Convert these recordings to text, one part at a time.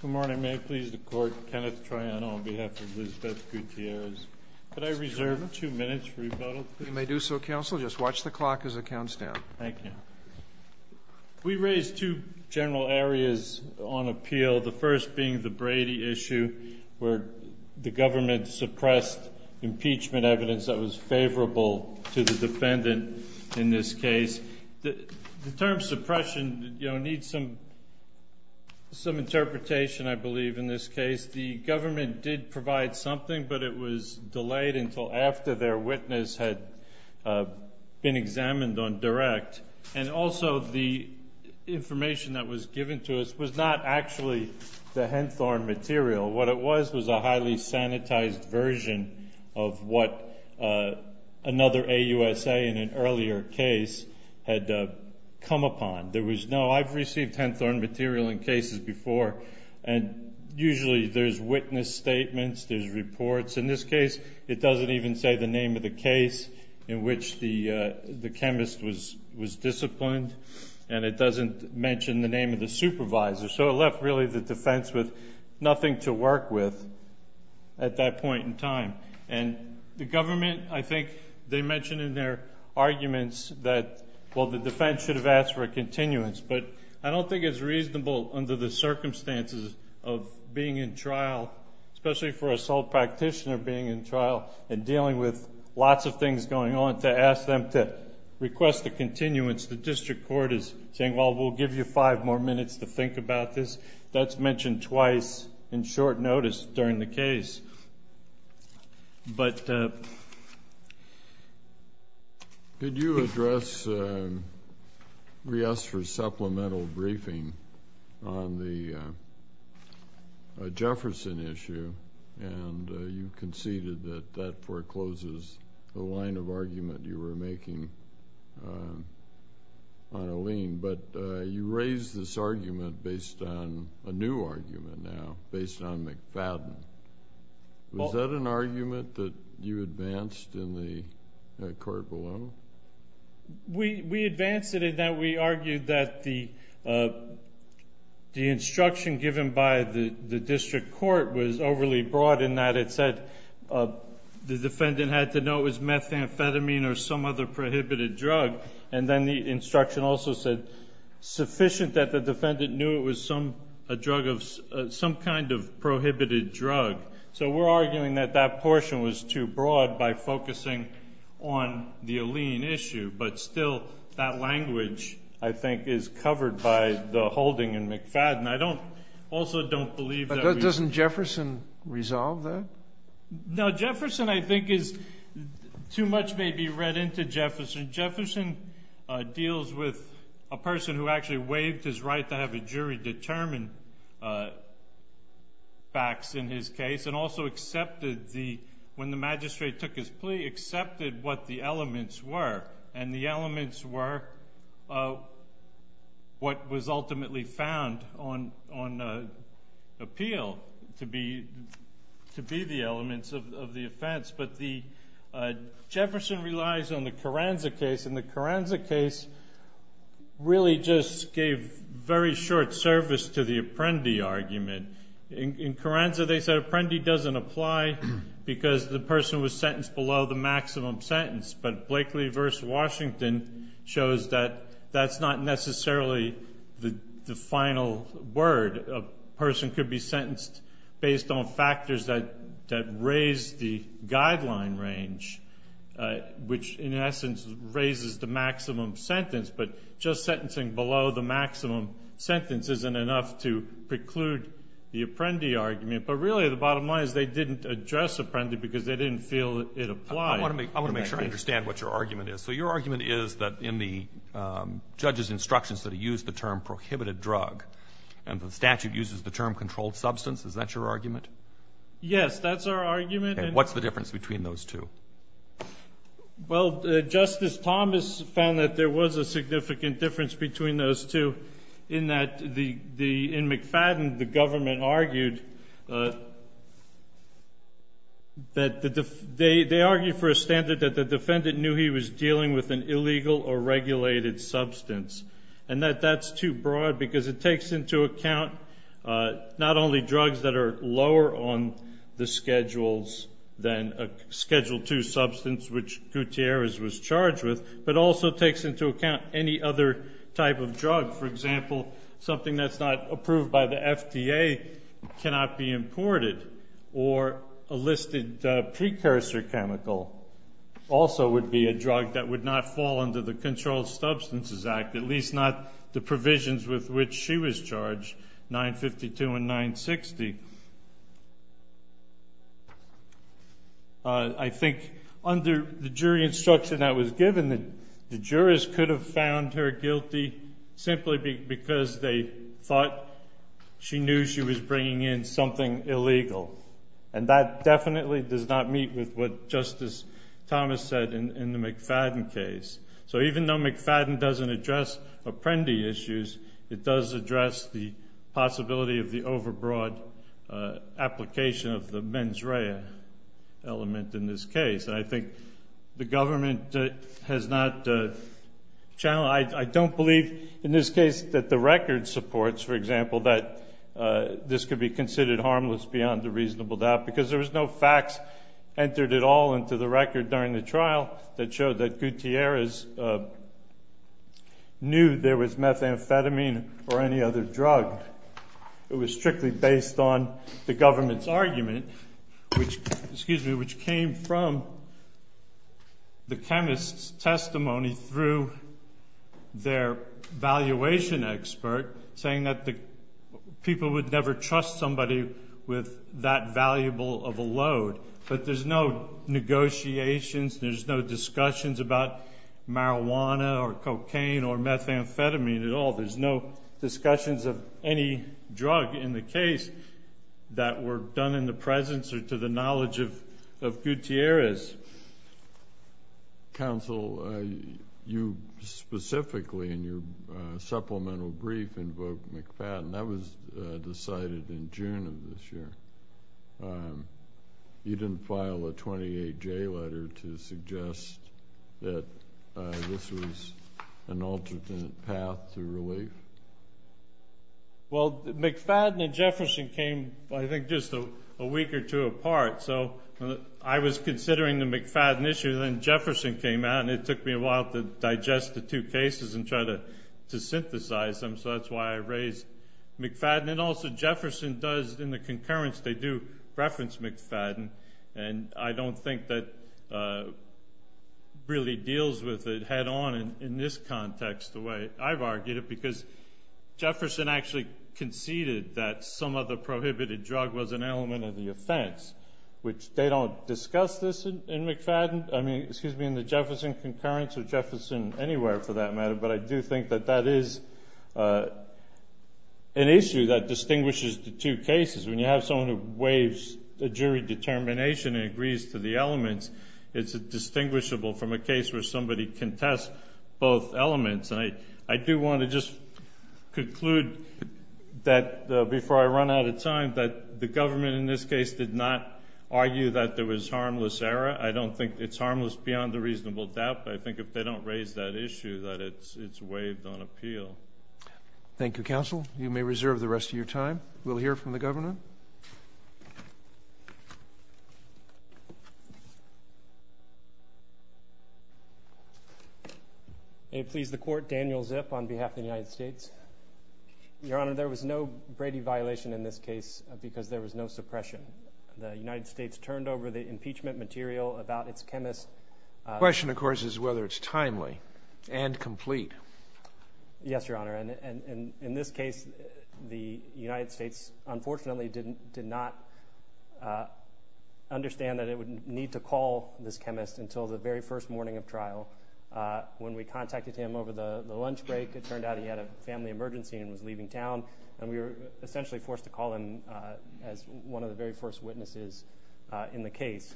Good morning. May I please the court, Kenneth Triano on behalf of Lizbeth Gutierrez. Could I reserve two minutes for rebuttal? You may do so, counsel. Just watch the clock as it counts down. Thank you. We raised two general areas on appeal, the first being the Brady issue where the government suppressed impeachment evidence that was favorable to the defendant in this case. The term suppression needs some interpretation, I believe, in this case. The government did provide something, but it was delayed until after their witness had been examined on direct. And also the information that was given to us was not actually the Henthorne material. What it was was a highly sanitized version of what another AUSA in an earlier case had come upon. There was no, I've received Henthorne material in cases before, and usually there's witness statements, there's reports. In this case, it doesn't even say the name of the case in which the chemist was disciplined, and it doesn't mention the name of the supervisor. So it left really the defense with nothing to work with at that point in time. And the government, I think they mentioned in their arguments that, well, the defense should have asked for a continuance. But I don't think it's reasonable under the circumstances of being in trial, especially for a sole practitioner being in trial and dealing with lots of things going on, to ask them to request a continuance. The district court is saying, well, we'll give you five more minutes to think about this. That's mentioned twice in short notice during the case. Could you address Reester's supplemental briefing on the Jefferson issue? And you conceded that that forecloses the line of argument you were making on a lien. But you raised this argument based on a new argument now, based on McFadden. Was that an argument that you advanced in the court below? We advanced it in that we argued that the instruction given by the district court was overly broad, in that it said the defendant had to know it was methamphetamine or some other prohibited drug. And then the instruction also said sufficient that the defendant knew it was some kind of prohibited drug. So we're arguing that that portion was too broad by focusing on the lien issue. But still, that language, I think, is covered by the holding in McFadden. I don't also don't believe that we ---- But doesn't Jefferson resolve that? No. Jefferson, I think, is too much may be read into Jefferson. Jefferson deals with a person who actually waived his right to have a jury determine facts in his case and also accepted the ---- when the magistrate took his plea, accepted what the elements were. And the elements were what was ultimately found on appeal to be the elements of the offense. But Jefferson relies on the Carranza case, and the Carranza case really just gave very short service to the Apprendi argument. In Carranza, they said Apprendi doesn't apply because the person was sentenced below the maximum sentence. But Blakely v. Washington shows that that's not necessarily the final word. A person could be sentenced based on factors that raise the guideline range, which in essence raises the maximum sentence. But just sentencing below the maximum sentence isn't enough to preclude the Apprendi argument. But really, the bottom line is they didn't address Apprendi because they didn't feel it applied. I want to make sure I understand what your argument is. So your argument is that in the judge's instructions that he used the term prohibited drug and the statute uses the term controlled substance, is that your argument? Yes, that's our argument. And what's the difference between those two? Well, Justice Thomas found that there was a significant difference between those two in that in McFadden, the government argued that they argued for a standard that the defendant knew he was dealing with an illegal or regulated substance. And that that's too broad because it takes into account not only drugs that are lower on the schedules than a Schedule II substance, which Gutierrez was charged with, but also takes into account any other type of drug. For example, something that's not approved by the FDA cannot be imported. Or a listed precursor chemical also would be a drug that would not fall under the Controlled Substances Act, at least not the provisions with which she was charged, 952 and 960. I think under the jury instruction that was given, the jurors could have found her guilty simply because they thought she knew she was bringing in something illegal. And that definitely does not meet with what Justice Thomas said in the McFadden case. So even though McFadden doesn't address Apprendi issues, it does address the possibility of the overbroad application of the mens rea element in this case. And I think the government has not challenged. I don't believe in this case that the record supports, for example, that this could be considered harmless beyond a reasonable doubt, because there was no facts entered at all into the record during the trial that showed that Gutierrez knew there was methamphetamine or any other drug. It was strictly based on the government's argument, which came from the chemist's testimony through their valuation expert, saying that people would never trust somebody with that valuable of a load. But there's no negotiations, there's no discussions about marijuana or cocaine or methamphetamine at all. There's no discussions of any drug in the case that were done in the presence or to the knowledge of Gutierrez. Counsel, you specifically in your supplemental brief invoked McFadden. That was decided in June of this year. You didn't file a 28J letter to suggest that this was an alternate path to relief? Well, McFadden and Jefferson came, I think, just a week or two apart. So I was considering the McFadden issue, then Jefferson came out, and it took me a while to digest the two cases and try to synthesize them. So that's why I raised McFadden. And also Jefferson does, in the concurrence, they do reference McFadden, and I don't think that really deals with it head-on in this context the way I've argued it, because Jefferson actually conceded that some of the prohibited drug was an element of the offense, which they don't discuss this in McFadden. I mean, excuse me, in the Jefferson concurrence or Jefferson anywhere, for that matter. But I do think that that is an issue that distinguishes the two cases. When you have someone who waives a jury determination and agrees to the elements, it's distinguishable from a case where somebody can test both elements. And I do want to just conclude that, before I run out of time, that the government in this case did not argue that there was harmless error. I don't think it's harmless beyond a reasonable doubt, but I think if they don't raise that issue that it's waived on appeal. Thank you, counsel. You may reserve the rest of your time. We'll hear from the government. Yes, sir. May it please the Court, Daniel Zip on behalf of the United States. Your Honor, there was no Brady violation in this case because there was no suppression. The United States turned over the impeachment material about its chemist. The question, of course, is whether it's timely and complete. Yes, Your Honor. In this case, the United States, unfortunately, did not understand that it would need to call this chemist until the very first morning of trial. When we contacted him over the lunch break, it turned out he had a family emergency and was leaving town, and we were essentially forced to call him as one of the very first witnesses in the case.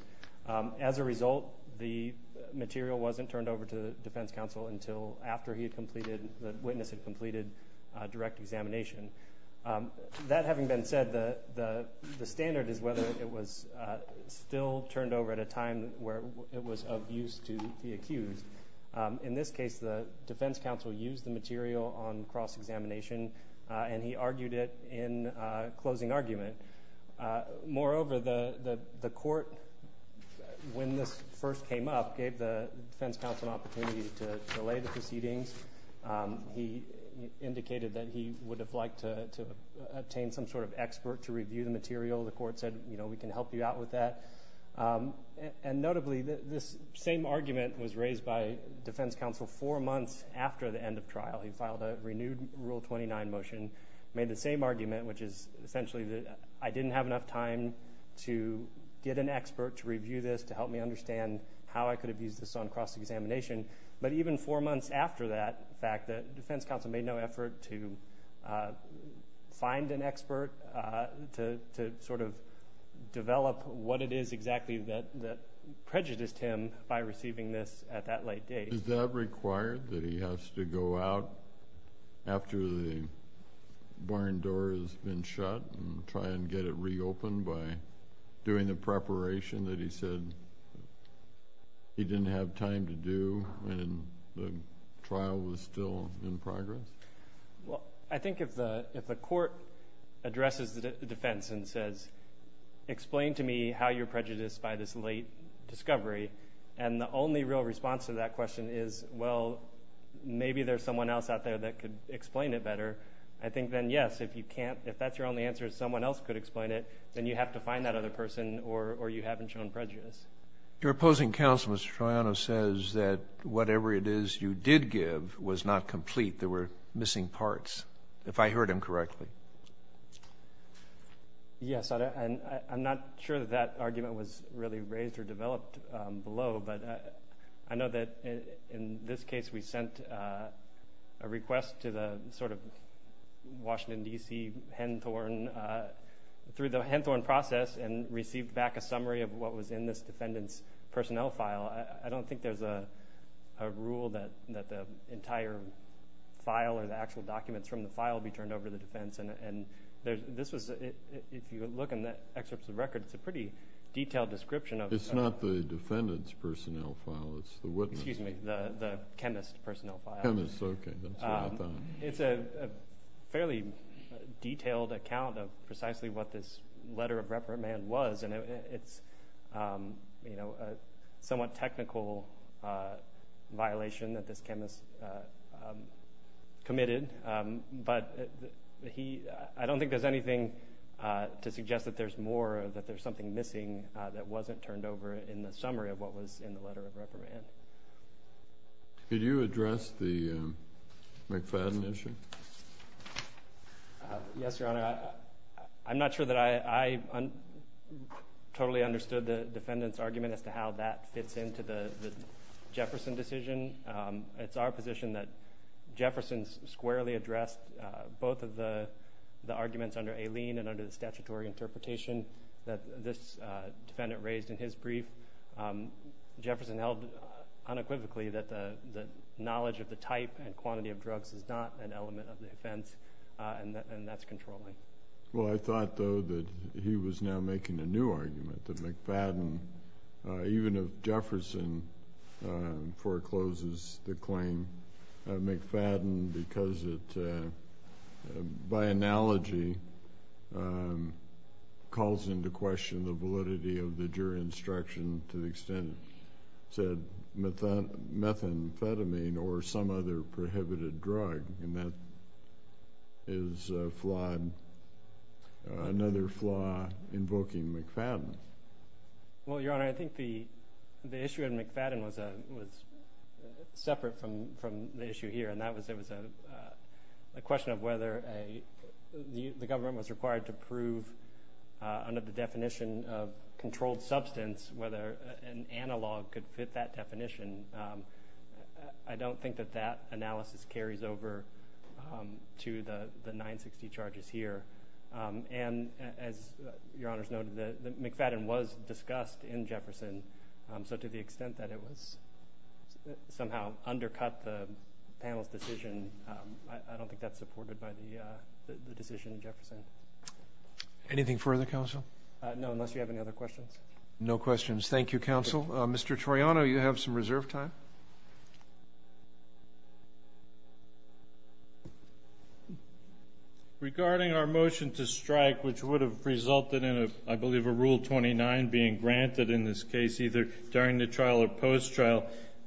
As a result, the material wasn't turned over to the defense counsel until after the witness had completed direct examination. That having been said, the standard is whether it was still turned over at a time where it was of use to the accused. In this case, the defense counsel used the material on cross-examination, and he argued it in closing argument. Moreover, the court, when this first came up, gave the defense counsel an opportunity to delay the proceedings. He indicated that he would have liked to obtain some sort of expert to review the material. The court said, you know, we can help you out with that. And notably, this same argument was raised by defense counsel four months after the end of trial. He filed a renewed Rule 29 motion, made the same argument, which is essentially that I didn't have enough time to get an expert to review this, to help me understand how I could have used this on cross-examination. But even four months after that fact, the defense counsel made no effort to find an expert, to sort of develop what it is exactly that prejudiced him by receiving this at that late date. Is that required, that he has to go out after the barn door has been shut and try and get it reopened by doing the preparation that he said he didn't have time to do when the trial was still in progress? Well, I think if the court addresses the defense and says, explain to me how you're prejudiced by this late discovery, and the only real response to that question is, well, maybe there's someone else out there that could explain it better, I think then, yes, if that's your only answer is someone else could explain it, then you have to find that other person or you haven't shown prejudice. Your opposing counsel, Mr. Troiano, says that whatever it is you did give was not complete. There were missing parts, if I heard him correctly. Yes, and I'm not sure that that argument was really raised or developed below, but I know that in this case we sent a request to the sort of Washington, D.C., Henthorne, through the Henthorne process and received back a summary of what was in this defendant's personnel file. I don't think there's a rule that the entire file or the actual documents from the file be turned over to the defense, and this was, if you look in the excerpts of the record, it's a pretty detailed description. It's not the defendant's personnel file, it's the witness. Excuse me, the chemist's personnel file. Chemist, okay, that's what I thought. It's a fairly detailed account of precisely what this letter of reprimand was, and it's a somewhat technical violation that this chemist committed, but I don't think there's anything to suggest that there's more, something missing that wasn't turned over in the summary of what was in the letter of reprimand. Did you address the McFadden issue? Yes, Your Honor. I'm not sure that I totally understood the defendant's argument as to how that fits into the Jefferson decision. It's our position that Jefferson squarely addressed both of the arguments under Aileen and under the statutory interpretation that this defendant raised in his brief. Jefferson held unequivocally that the knowledge of the type and quantity of drugs is not an element of the offense, and that's controlling. Well, I thought, though, that he was now making a new argument, that McFadden, even if Jefferson forecloses the claim, McFadden because it, by analogy, calls into question the validity of the jury instruction to the extent it said methamphetamine or some other prohibited drug, and that is another flaw invoking McFadden. Well, Your Honor, I think the issue in McFadden was separate from the issue here, and that was a question of whether the government was required to prove under the definition of controlled substance whether an analog could fit that definition. I don't think that that analysis carries over to the 960 charges here. And as Your Honor has noted, McFadden was discussed in Jefferson, so to the extent that it was somehow undercut the panel's decision, I don't think that's supported by the decision in Jefferson. Anything further, counsel? No, unless you have any other questions. No questions. Thank you, counsel. Mr. Toriano, you have some reserve time. Thank you, Your Honor. Regarding our motion to strike, which would have resulted in, I believe, a Rule 29 being granted in this case, either during the trial or post-trial,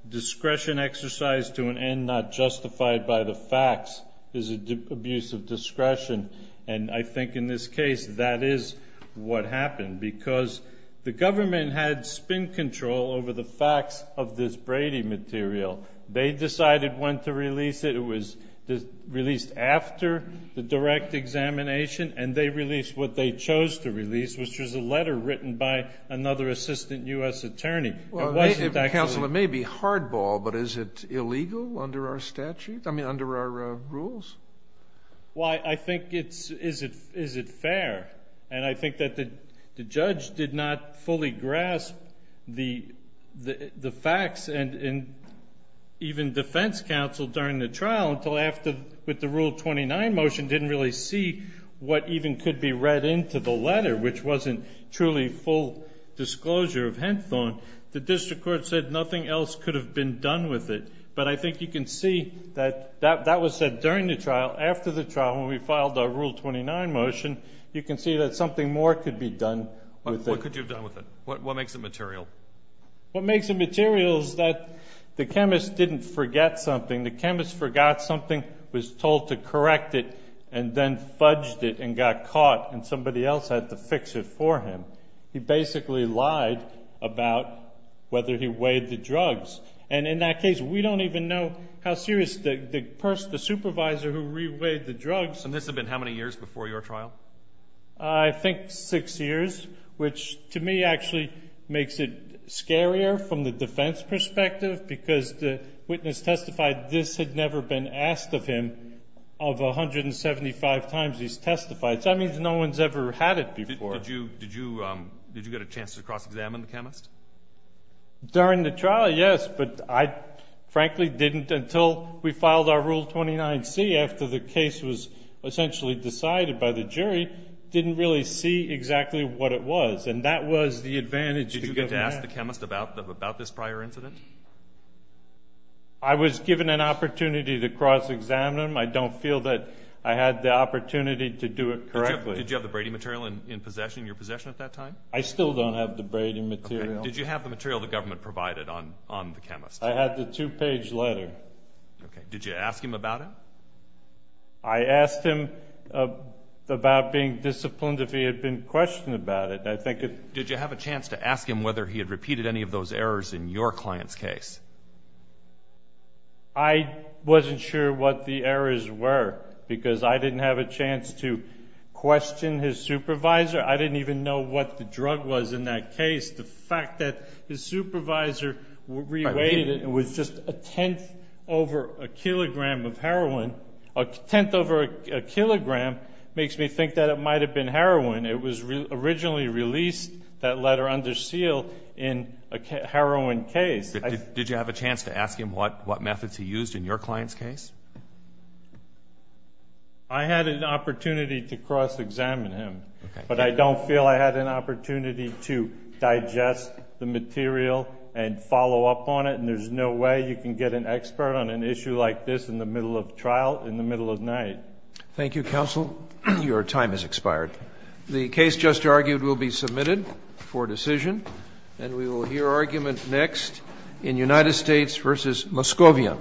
discretion exercised to an end not justified by the facts is an abuse of discretion, and I think in this case that is what happened because the government had spin control over the facts of this Brady material. They decided when to release it. It was released after the direct examination, and they released what they chose to release, which was a letter written by another assistant U.S. attorney. Counsel, it may be hardball, but is it illegal under our statute? I mean, under our rules? Well, I think it's, is it fair? And I think that the judge did not fully grasp the facts and even defense counsel during the trial until after with the Rule 29 motion didn't really see what even could be read into the letter, which wasn't truly full disclosure of Henthorne. The district court said nothing else could have been done with it, but I think you can see that that was said during the trial. After the trial, when we filed our Rule 29 motion, you can see that something more could be done with it. What could you have done with it? What makes it material? What makes it material is that the chemist didn't forget something. The chemist forgot something, was told to correct it, and then fudged it and got caught and somebody else had to fix it for him. He basically lied about whether he weighed the drugs, and in that case we don't even know how serious the supervisor who re-weighed the drugs. And this had been how many years before your trial? I think six years, which to me actually makes it scarier from the defense perspective because the witness testified this had never been asked of him of 175 times he's testified. So that means no one's ever had it before. Did you get a chance to cross-examine the chemist? During the trial, yes, but I frankly didn't until we filed our Rule 29C after the case was essentially decided by the jury. Didn't really see exactly what it was, and that was the advantage. Did you get to ask the chemist about this prior incident? I was given an opportunity to cross-examine him. I don't feel that I had the opportunity to do it correctly. Did you have the Brady material in possession, in your possession at that time? I still don't have the Brady material. Did you have the material the government provided on the chemist? I had the two-page letter. Did you ask him about it? I asked him about being disciplined if he had been questioned about it. Did you have a chance to ask him whether he had repeated any of those errors in your client's case? I wasn't sure what the errors were because I didn't have a chance to question his supervisor. I didn't even know what the drug was in that case. The fact that his supervisor re-weighted it was just a tenth over a kilogram of heroin. A tenth over a kilogram makes me think that it might have been heroin. It was originally released, that letter under seal, in a heroin case. Did you have a chance to ask him what methods he used in your client's case? I had an opportunity to cross-examine him. But I don't feel I had an opportunity to digest the material and follow up on it. And there's no way you can get an expert on an issue like this in the middle of trial in the middle of night. Thank you, counsel. Your time has expired. The case just argued will be submitted for decision. And we will hear argument next in United States v. Moscovia.